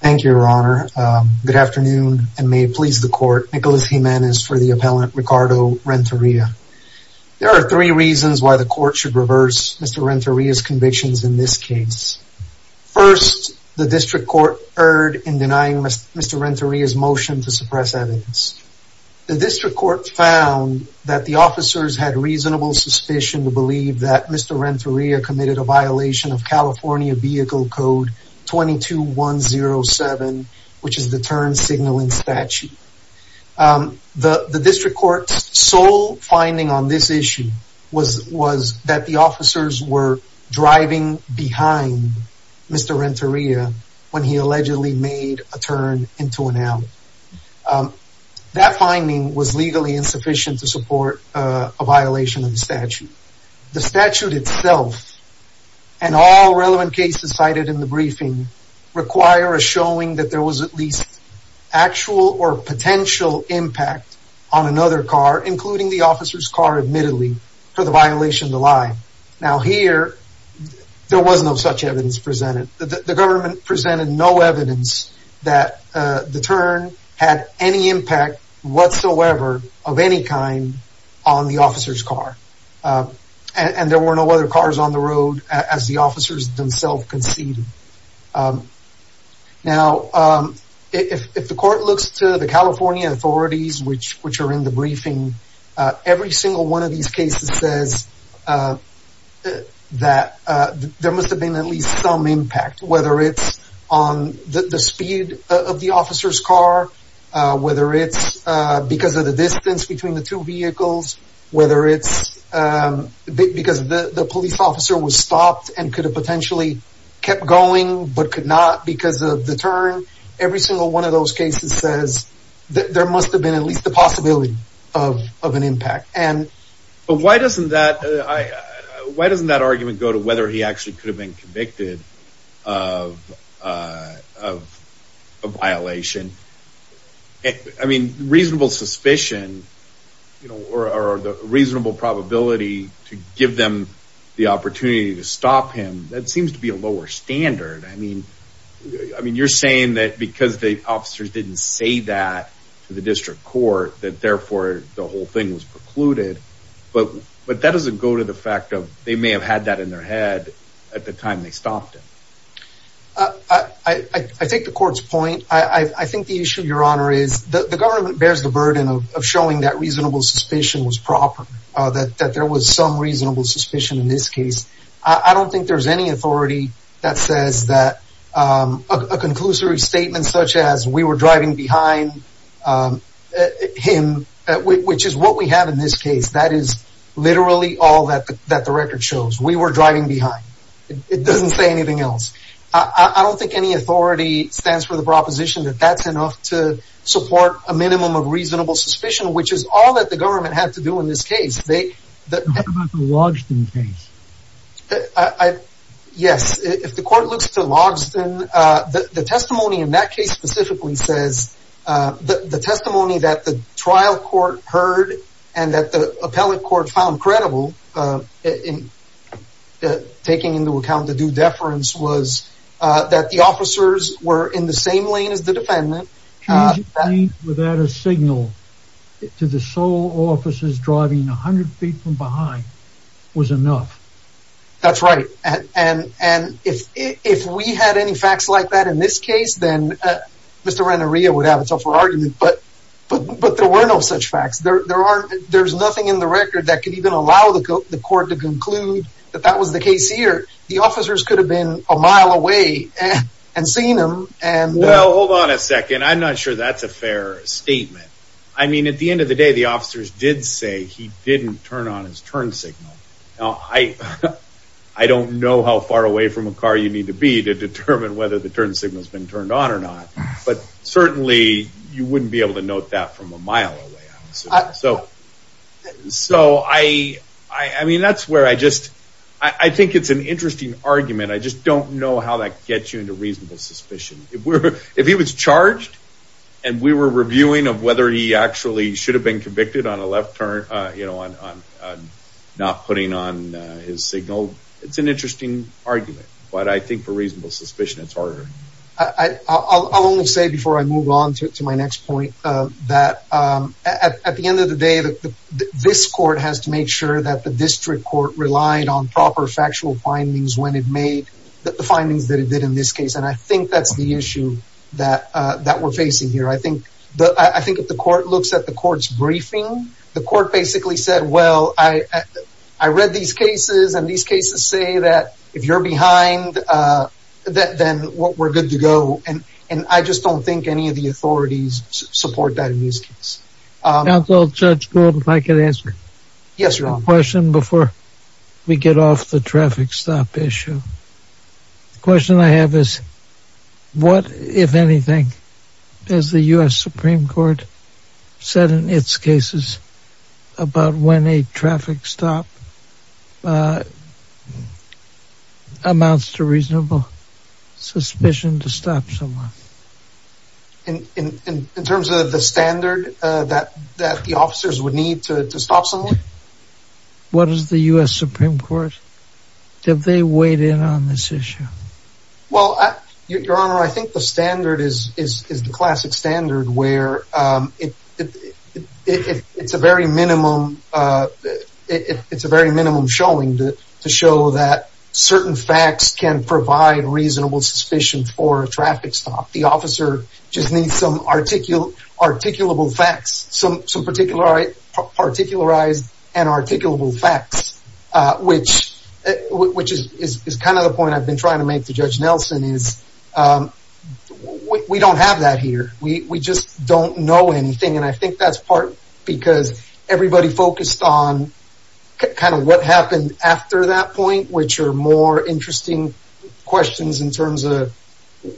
Thank you, your honor. Good afternoon and may it please the court, Nicholas Jimenez for the appellant, Ricardo Renteria. There are three reasons why the court should reverse Mr. Renteria's convictions in this case. First, the district court erred in denying Mr. Renteria's motion to suppress evidence. The district court found that the officers had reasonable suspicion to believe that Mr. Renteria committed a violation of California vehicle code 22107, which is the turn signaling statute. The district court's sole finding on this issue was, was that the officers were driving behind Mr. Renteria when he allegedly made a turn into an alley. That finding was legally insufficient to support a violation of the statute. The statute itself and all relevant cases cited in the require a showing that there was at least actual or potential impact on another car, including the officer's car, admittedly, for the violation to lie. Now here, there was no such evidence presented. The government presented no evidence that the turn had any impact whatsoever of any kind on the officer's car. And there were no other cars on the road as the officers themselves conceded. Now, if the court looks to the California authorities, which are in the briefing, every single one of these cases says that there must have been at least some impact, whether it's on the speed of the officer's car, whether it's because of the distance between the two vehicles, whether it's because the police officer was stopped and could have potentially kept going, but could not because of the turn. Every single one of those cases says that there must have been at least the possibility of of an impact. And why doesn't that I why doesn't that argument go to whether he actually could have been convicted of of a violation? I mean, reasonable suspicion, you know, or the reasonable probability to give them the opportunity to stop him. That seems to be a lower standard. I mean, I mean, you're saying that because the officers didn't say that to the district court, that therefore the whole thing was precluded. But but that doesn't go to the fact of they may have had that in their head at the time they stopped him. I think the court's point, I think the issue, Your Honor, is the government bears the burden of showing that reasonable suspicion was proper, that that there was some reasonable suspicion in this case. I don't think there's any authority that says that a conclusory statement such as we were driving behind him, which is what we have in this case, that is literally all that that the record shows. We were driving behind. It doesn't say anything else. I don't think any authority stands for the proposition that that's enough to support a minimum of reasonable suspicion, which is all that the government had to do in this case. They that the Logsdon case. I yes. If the court looks to Logsdon, the testimony in that case specifically says that the testimony that the trial court heard and that the appellate court found credible in taking into account the due deference was that the officers were in the same lane as the defendant. Can you claim without a signal to the sole officers driving 100 feet from behind was enough? That's right. And and if if we had any facts like that in this case, then Mr. Renneria would have a tougher argument. But but there were no such facts. There are there's nothing in the record that can even allow the court to conclude that that was the case here. The officers could have been a mile away and seen them. And well, hold on a second. I'm not sure that's a fair statement. I mean, at the end of the day, the officers did say he didn't turn on his turn signal. Now, I I don't know how far away from a car you need to be to determine whether the turn signal has been turned on or not. But certainly you wouldn't be able to note that from a mile away. So so I I mean, that's where I just I think it's an interesting argument. I just don't know how that gets you into reasonable suspicion. If we're if he was charged and we were reviewing of whether he actually should have been convicted on a left turn, you know, on not putting on his signal. It's an interesting argument. But I think for reasonable suspicion, it's harder. I I'll only say before I move on to my next point, that at the end of the day, this court has to make sure that the district court relied on proper factual findings when it made the findings that it did in this case. And I think that's the issue that that we're facing here. I think the I think if the court looks at the court's briefing, the court basically said, well, I I read these cases and these cases say that if you're behind that, then we're good to go. And and I just don't think any of the authorities support that in this case. Council Judge Gould, if I could answer. Yes, your question before we get off the traffic stop issue. The question I have is, what, if anything, is the U.S. Supreme Court said in its cases about when a traffic stop? Amounts to reasonable suspicion to stop someone. And in terms of the standard that that the officers would need to stop someone. What is the U.S. Supreme Court? Did they weighed in on this issue? Well, your honor, I think the standard is is is the classic standard where it it's a very minimum. It's a very minimum showing that to show that certain facts can provide reasonable suspicion for a traffic stop. The officer just needs some article articulable facts, some some particular particularized and articulable facts, which which is kind of the point I've been trying to make to Judge Nelson is we don't have that here. We just don't know anything. And I think that's part because everybody focused on kind of what happened after that point, which are more interesting questions in terms of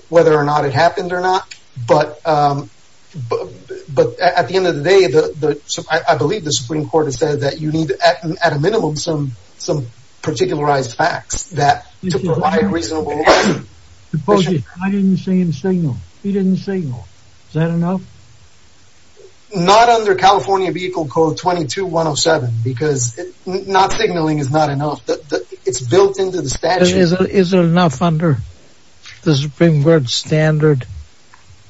whether or not it happened or not. But but but at the end of the day, the I believe the Supreme Court has said that you need at a minimum some some particularized facts that are reasonable. Supposedly, I didn't see him signal. He didn't signal. Is that enough? Not under California vehicle code twenty two one oh seven, because not signaling is not enough. It's built into the statute. Is it enough under the Supreme Court standard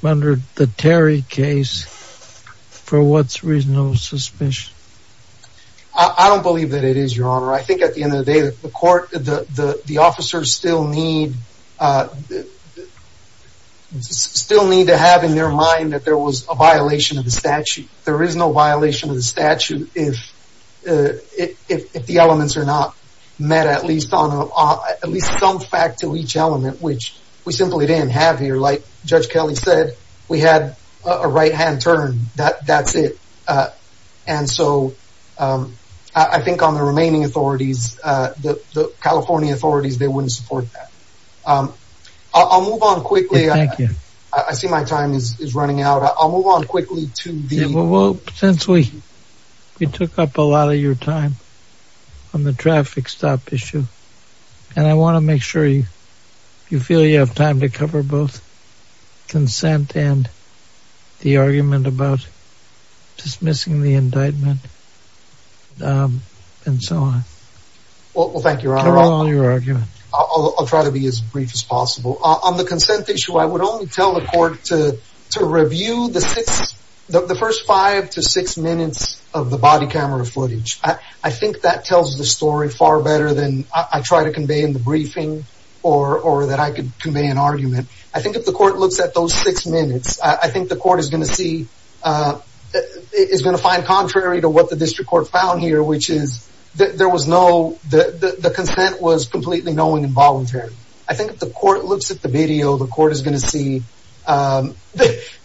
under the Terry case for what's reasonable suspicion? I don't believe that it is, your honor. I think at the end of the day, the court, the the officers still need still need to have in their mind that there was a violation of the statute. There is no violation of the statute. If if the elements are not met, at least on at least some fact to each element, which we simply didn't have here. Like Judge Kelly said, we had a right hand turn. That that's it. And so I think on the remaining authorities, the California authorities, they wouldn't support that. I'll move on quickly. Thank you. I see my time is running out. I'll move on quickly to the. Well, since we we took up a lot of your time on the traffic stop issue, and I want to make sure you feel you have time to cover both consent and the argument about dismissing the indictment and so on. Well, thank you for all your argument. I'll try to be as brief as possible on the consent issue. I would only tell the court to to review the six the first five to six minutes of the body camera footage. I think that tells the story far better than I try to convey in the briefing or or that I could convey an argument. I think if the court looks at those six minutes, I think the court is going to see that it is going to find contrary to what the district court found here, which is that there was no the consent was completely knowing involuntary. I think the court looks at the video. The court is going to see that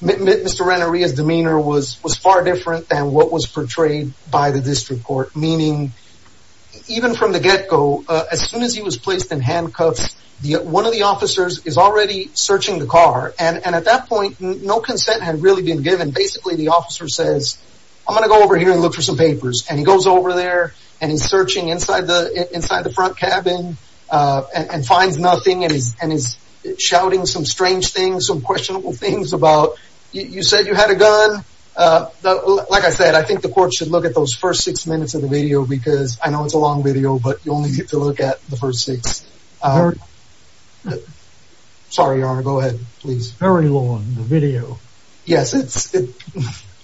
Mr. Renneria's demeanor was was far different than what was portrayed by the district court, meaning even from the get go, as soon as he was placed in handcuffs, one of the officers is already searching the car. And at that point, no consent had really been given. Basically, the officer says, I'm going to go over here and look for some papers. And he goes over there and he's searching inside the inside the front cabin and finds nothing. And he's and he's shouting some strange things, some questionable things about. You said you had a gun. Like I said, I think the court should look at those first six minutes of the video, because I know it's a long video, but you only get to look at the first six. Sorry, your honor, go ahead, please. Very long video. Yes, it's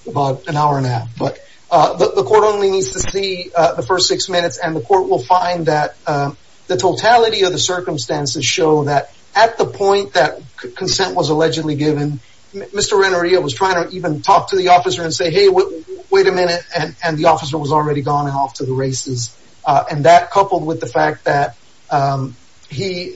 about an hour and a half. But the court only needs to see the first six minutes and the court will find that the totality of the circumstances show that at the point that consent was allegedly given, Mr. Renneria was trying to even talk to the officer and say, hey, wait a minute. And the officer was already gone and off to the races. And that coupled with the fact that he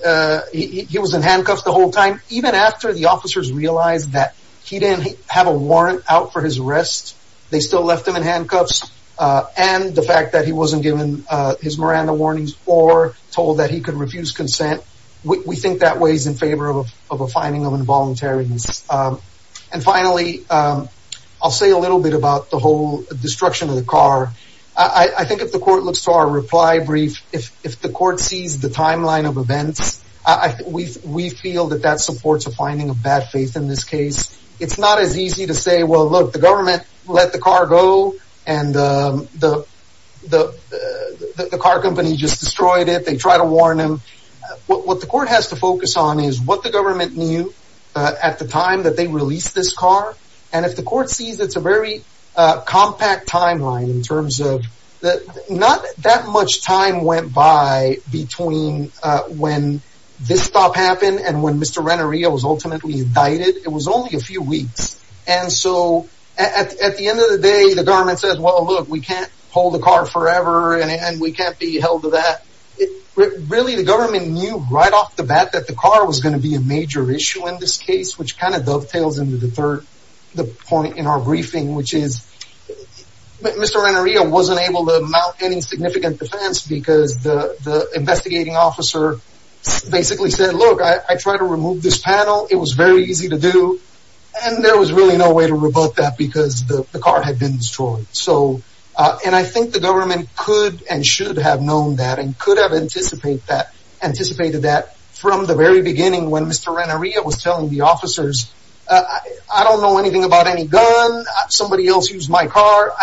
he was in handcuffs the whole time, even after the officers realized that he didn't have a warrant out for his arrest. They still left him in handcuffs. And the fact that he wasn't given his Miranda warnings or told that he could refuse consent, we think that weighs in favor of a finding of involuntary. And finally, I'll say a little bit about the whole destruction of the car. I think if the court looks to our reply brief, if if the court sees the timeline of events, I think we we feel that that supports a finding of bad faith in this case. It's not as easy to say, well, look, the government let the car go. And the the the the car company just destroyed it. They try to warn him. What the court has to focus on is what the government knew at the time that they released this car. And if the court sees it's a very compact timeline in terms of that, not that much time went by between when this stop happened and when Mr. Renneria was ultimately indicted. It was only a few weeks. And so at the end of the day, the government says, well, look, we can't hold the car forever and we can't be held to that. Really, the government knew right off the bat that the car was going to be a major issue in this case, which kind of dovetails into the third point in our briefing, which is Mr. Renneria wasn't able to mount any significant defense because the investigating officer basically said, look, I try to remove this panel. It was very easy to do. And there was really no way to rebut that because the car had been destroyed. So and I think the government could and should have known that and could have anticipate that anticipated that from the very beginning when Mr. Renneria was telling the officers, I don't know anything about any gun. Somebody else used my car.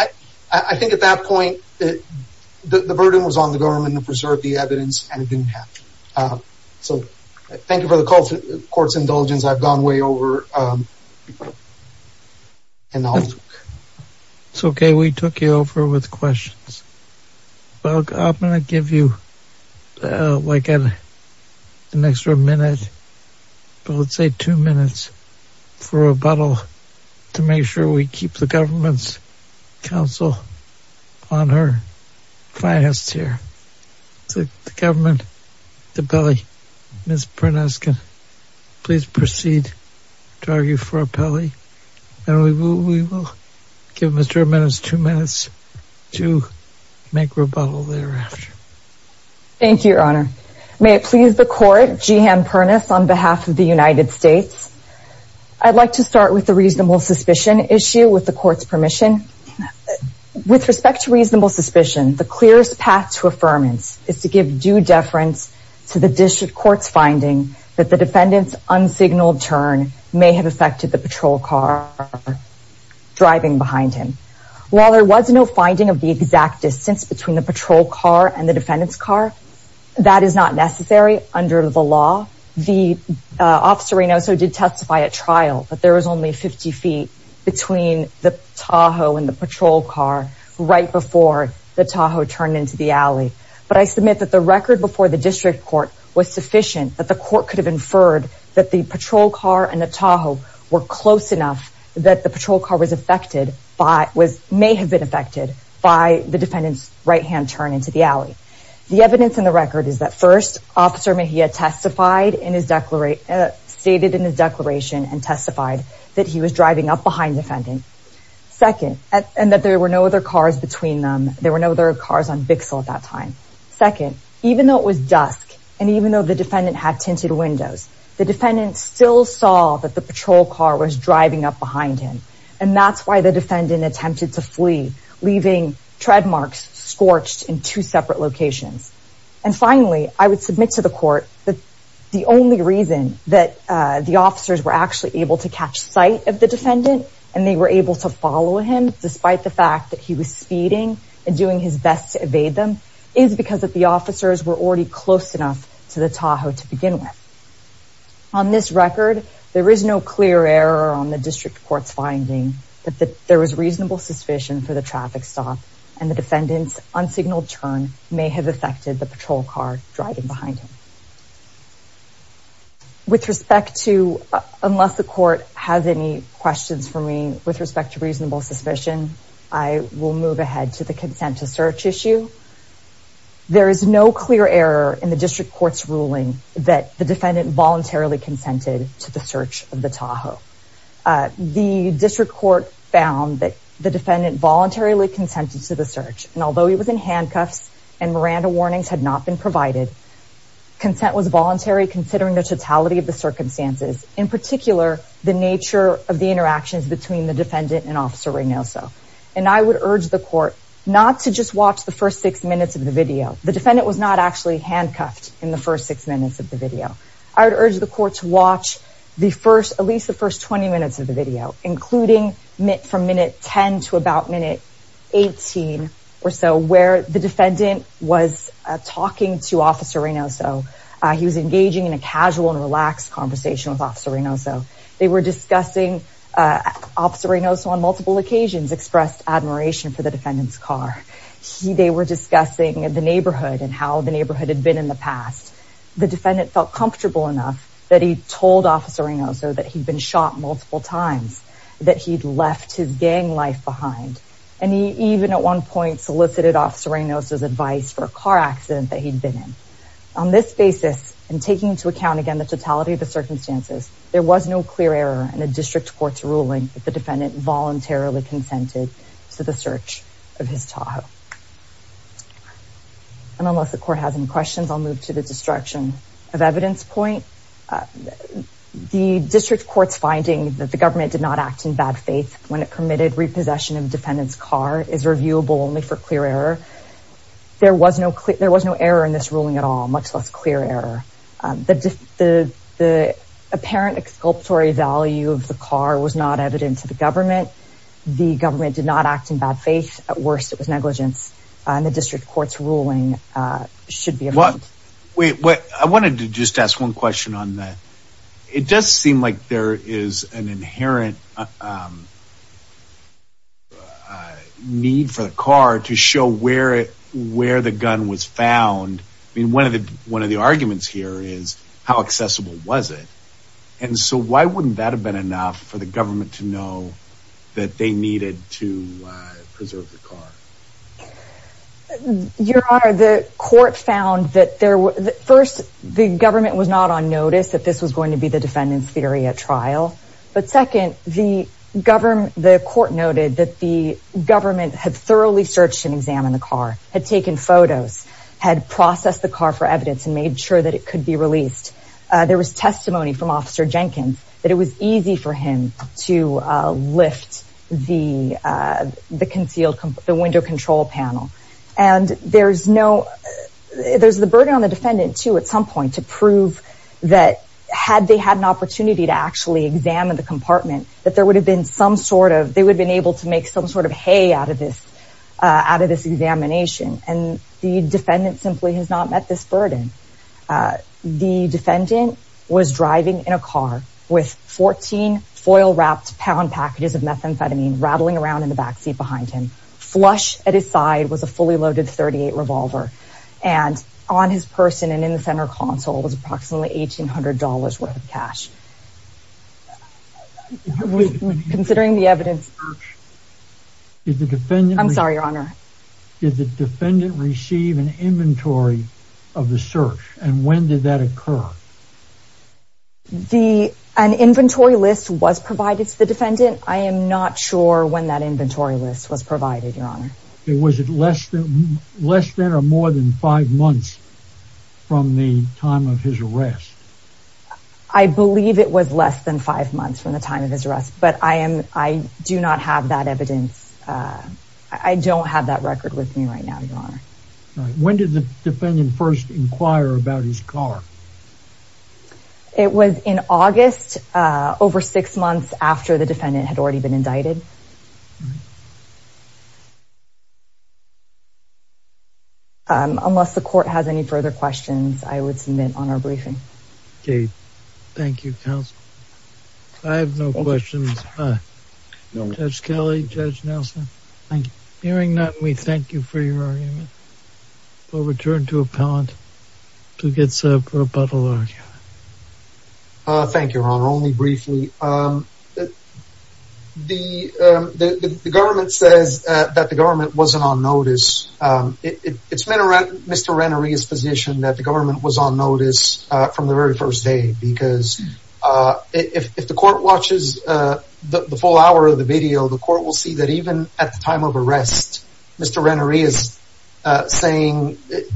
I think at that point, the burden was on the government to preserve the evidence, and it didn't happen. So thank you for the court's indulgence. I've gone way over. It's OK, we took you over with questions. Well, I'm going to give you like an extra minute, but let's say two minutes for a bottle to make sure we keep the government's counsel on her finest here. So the government, the belly is pronounced. Please proceed to argue for a pally. And we will give Mr. Menace two minutes to make rebuttal thereafter. Thank you, Your Honor. May it please the court. Jehan Pernas, on behalf of the United States. I'd like to start with the reasonable suspicion issue with the court's permission with respect to reasonable suspicion, the clearest path to affirmance. It's to give due deference to the district court's finding that the defendant's unsignaled turn may have affected the patrol car driving behind him. While there was no finding of the exact distance between the patrol car and the defendant's car, that is not necessary under the law. The officer also did testify at trial, but there was only 50 feet between the Tahoe and the patrol car right before the Tahoe turned into the alley. But I submit that the record before the district court was sufficient that the court could have inferred that the patrol car and the Tahoe were close enough that the patrol car was affected by was may have been affected by the defendant's right hand turn into the alley. The evidence in the record is that first officer Mahia testified in his declaration stated in his declaration and testified that he was driving up behind defendant second and that there were no other cars between them. There were no other cars on Bixel at that time. Second, even though it was dusk and even though the defendant had tinted windows, the defendant still saw that the patrol car was driving up behind him. And that's why the defendant attempted to flee, leaving treadmarks scorched in two separate locations. And finally, I would submit to the court that the only reason that the officers were actually able to catch sight of the defendant and they were able to follow him, despite the fact that he was speeding and doing his best to evade them, is because that the officers were already close enough to the Tahoe to begin with. On this record, there is no clear error on the district court's finding that there was reasonable suspicion for the traffic stop and the defendant's unsignaled turn may have affected the patrol car driving behind him. With respect to unless the court has any questions for me with respect to reasonable suspicion, I will move ahead to the consent to search issue. There is no clear error in the district court's ruling that the defendant voluntarily consented to the search of the Tahoe. The district court found that the defendant voluntarily consented to the search. And although he was in handcuffs and Miranda warnings had not been provided, consent was voluntary considering the totality of the circumstances, in particular, the nature of the interactions between the defendant and Officer Reynoso. And I would urge the court not to just watch the first six minutes of the video. The defendant was not actually handcuffed in the first six minutes of the video. I would urge the court to watch the first at least the first 20 minutes of the video, including from minute 10 to about minute 18 or so, where the defendant was talking to Officer Reynoso. He was engaging in a casual and relaxed conversation with Officer Reynoso. They were discussing Officer Reynoso on multiple occasions, expressed admiration for the defendant's car. They were discussing the neighborhood and how the neighborhood had been in the past. The defendant felt comfortable enough that he told Officer Reynoso that he'd been shot multiple times, that he'd left his gang life behind. And he even at one point solicited Officer Reynoso's advice for a car accident that he'd been in. On this basis, and taking into account, again, the totality of the circumstances, there was no clear error in a district court's ruling that the defendant voluntarily consented to the search of his Tahoe. And unless the court has any questions, I'll move to the destruction of evidence point. The district court's finding that the government did not act in bad faith when it permitted repossession of defendant's car is reviewable only for clear error. There was no clear, there was no error in this ruling at all, much less clear error. The apparent exculpatory value of the car was not evident to the government. The government did not act in bad faith. At worst, it was negligence. And the district court's ruling should be... Wait, I wanted to just ask one question on that. It does seem like there is an inherent need for the car to show where the gun was found. I mean, one of the arguments here is how accessible was it? And so why wouldn't that have been enough for the government to know that they needed to preserve the car? Your Honor, the court found that there were... But second, the court noted that the government had thoroughly searched and examined the car, had taken photos, had processed the car for evidence and made sure that it could be released. There was testimony from Officer Jenkins that it was easy for him to lift the concealed, the window control panel. And there's the burden on the defendant, too, at some point to prove that had they had an opportunity to actually examine the compartment, that there would have been some sort of... They would have been able to make some sort of hay out of this examination. And the defendant simply has not met this burden. The defendant was driving in a car with 14 foil-wrapped pound packages of methamphetamine rattling around in the backseat behind him. Flush at his side was a fully loaded .38 revolver. And on his person and in the center console was approximately $1,800 worth of cash. Considering the evidence... I'm sorry, Your Honor. Did the defendant receive an inventory of the search? And when did that occur? An inventory list was provided to the defendant. Was it less than or more than five months from the time of his arrest? I believe it was less than five months from the time of his arrest. But I do not have that evidence. I don't have that record with me right now, Your Honor. When did the defendant first inquire about his car? It was in August, over six months after the defendant had already been indicted. Unless the court has any further questions, I would submit on our briefing. Okay. Thank you, counsel. I have no questions. Judge Kelly, Judge Nelson. Thank you. Hearing none, we thank you for your argument. We'll return to appellant to get a rebuttal argument. Thank you, Your Honor. Only briefly. The government says that the government wasn't on notice. It's been Mr. Ranerea's position that the government was on notice from the very first day. Because if the court watches the full hour of the video, the court will see that even at the time of arrest, Mr. Ranerea is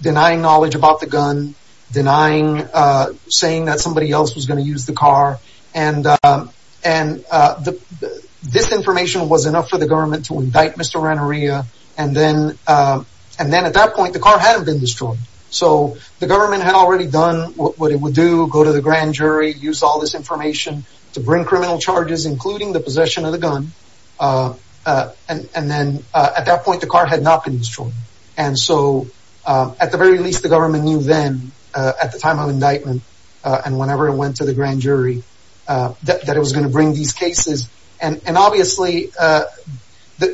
denying knowledge about the gun, saying that somebody else was going to use the car, and this information was enough for the government to indict Mr. Ranerea. And then at that point, the car hadn't been destroyed. So the government had already done what it would do, go to the grand jury, use all this information to bring criminal charges, including the possession of the gun. And then at that point, the car had not been destroyed. And so at the very least, the government knew then, at the time of indictment and whenever it went to the grand jury, that it was going to bring these cases. And obviously, the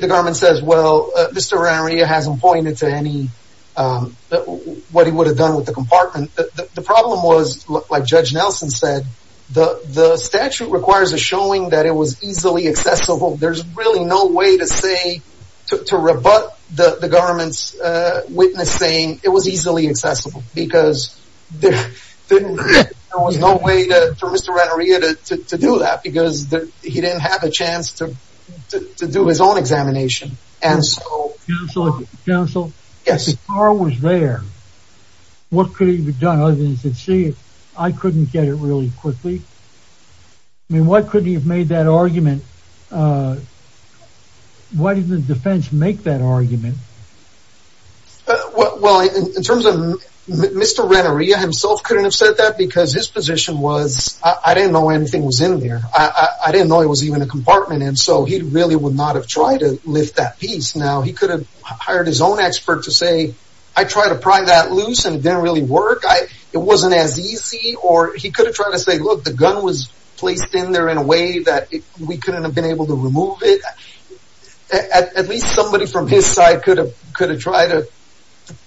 government says, well, Mr. Ranerea hasn't pointed to any, what he would have done with the compartment. The problem was, like Judge Nelson said, the statute requires a showing that it was easily accessible. There's really no way to say, to rebut the government's witness saying it was easily accessible. Because there was no way for Mr. Ranerea to do that, because he didn't have a chance to do his own examination. And so... Counselor, if the car was there, what could he have done other than to say, I couldn't get it really quickly? I mean, why couldn't he have made that argument? Why didn't the defense make that argument? Well, in terms of Mr. Ranerea himself couldn't have said that because his position was, I didn't know anything was in there. I didn't know it was even a compartment. And so he really would not have tried to lift that piece. Now, he could have hired his own expert to say, I tried to pry that loose and it didn't really work. It wasn't as easy. Or he could have tried to say, look, the gun was placed in there in a way that we couldn't have been able to remove it. At least somebody from his side could have tried to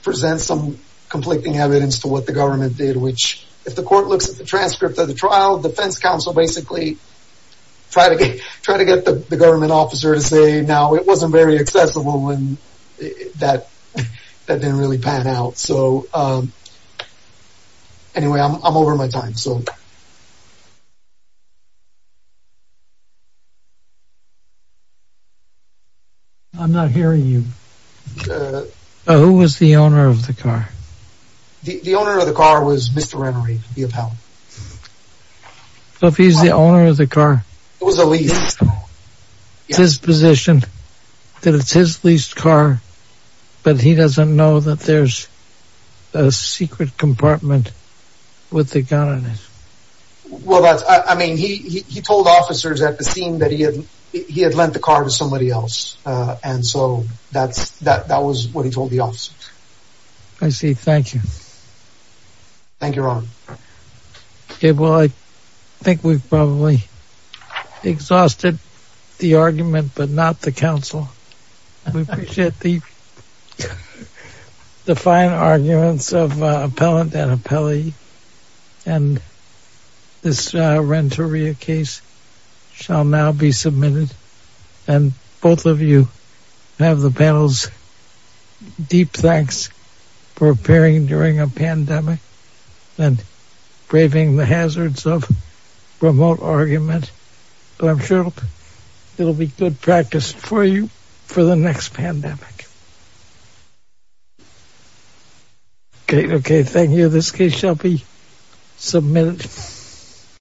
present some conflicting evidence to what the government did, which if the court looks at the transcript of the trial, defense counsel basically try to get the government officer to say, now, it wasn't very accessible and that didn't really pan out. So anyway, I'm over my time. I'm not hearing you. Who was the owner of the car? The owner of the car was Mr. Ranerea, the appellant. So if he's the owner of the car. It was a lease. It's his position that it's his leased car, but he doesn't know that there's a secret compartment with the gun in it. Well, I mean, he told officers at the scene that he had lent the car to somebody else and so that was what he told the officers. I see. Thank you. Thank you, Ron. Okay. Well, I think we've probably exhausted the argument, but not the counsel. We appreciate the fine arguments of appellant and appellee. And this Ranerea case shall now be submitted. And both of you have the panel's deep thanks for appearing during a pandemic and braving the hazards of remote argument. So I'm sure it'll be good practice for you for the next pandemic. Okay. Okay. Thank you. This case shall be submitted.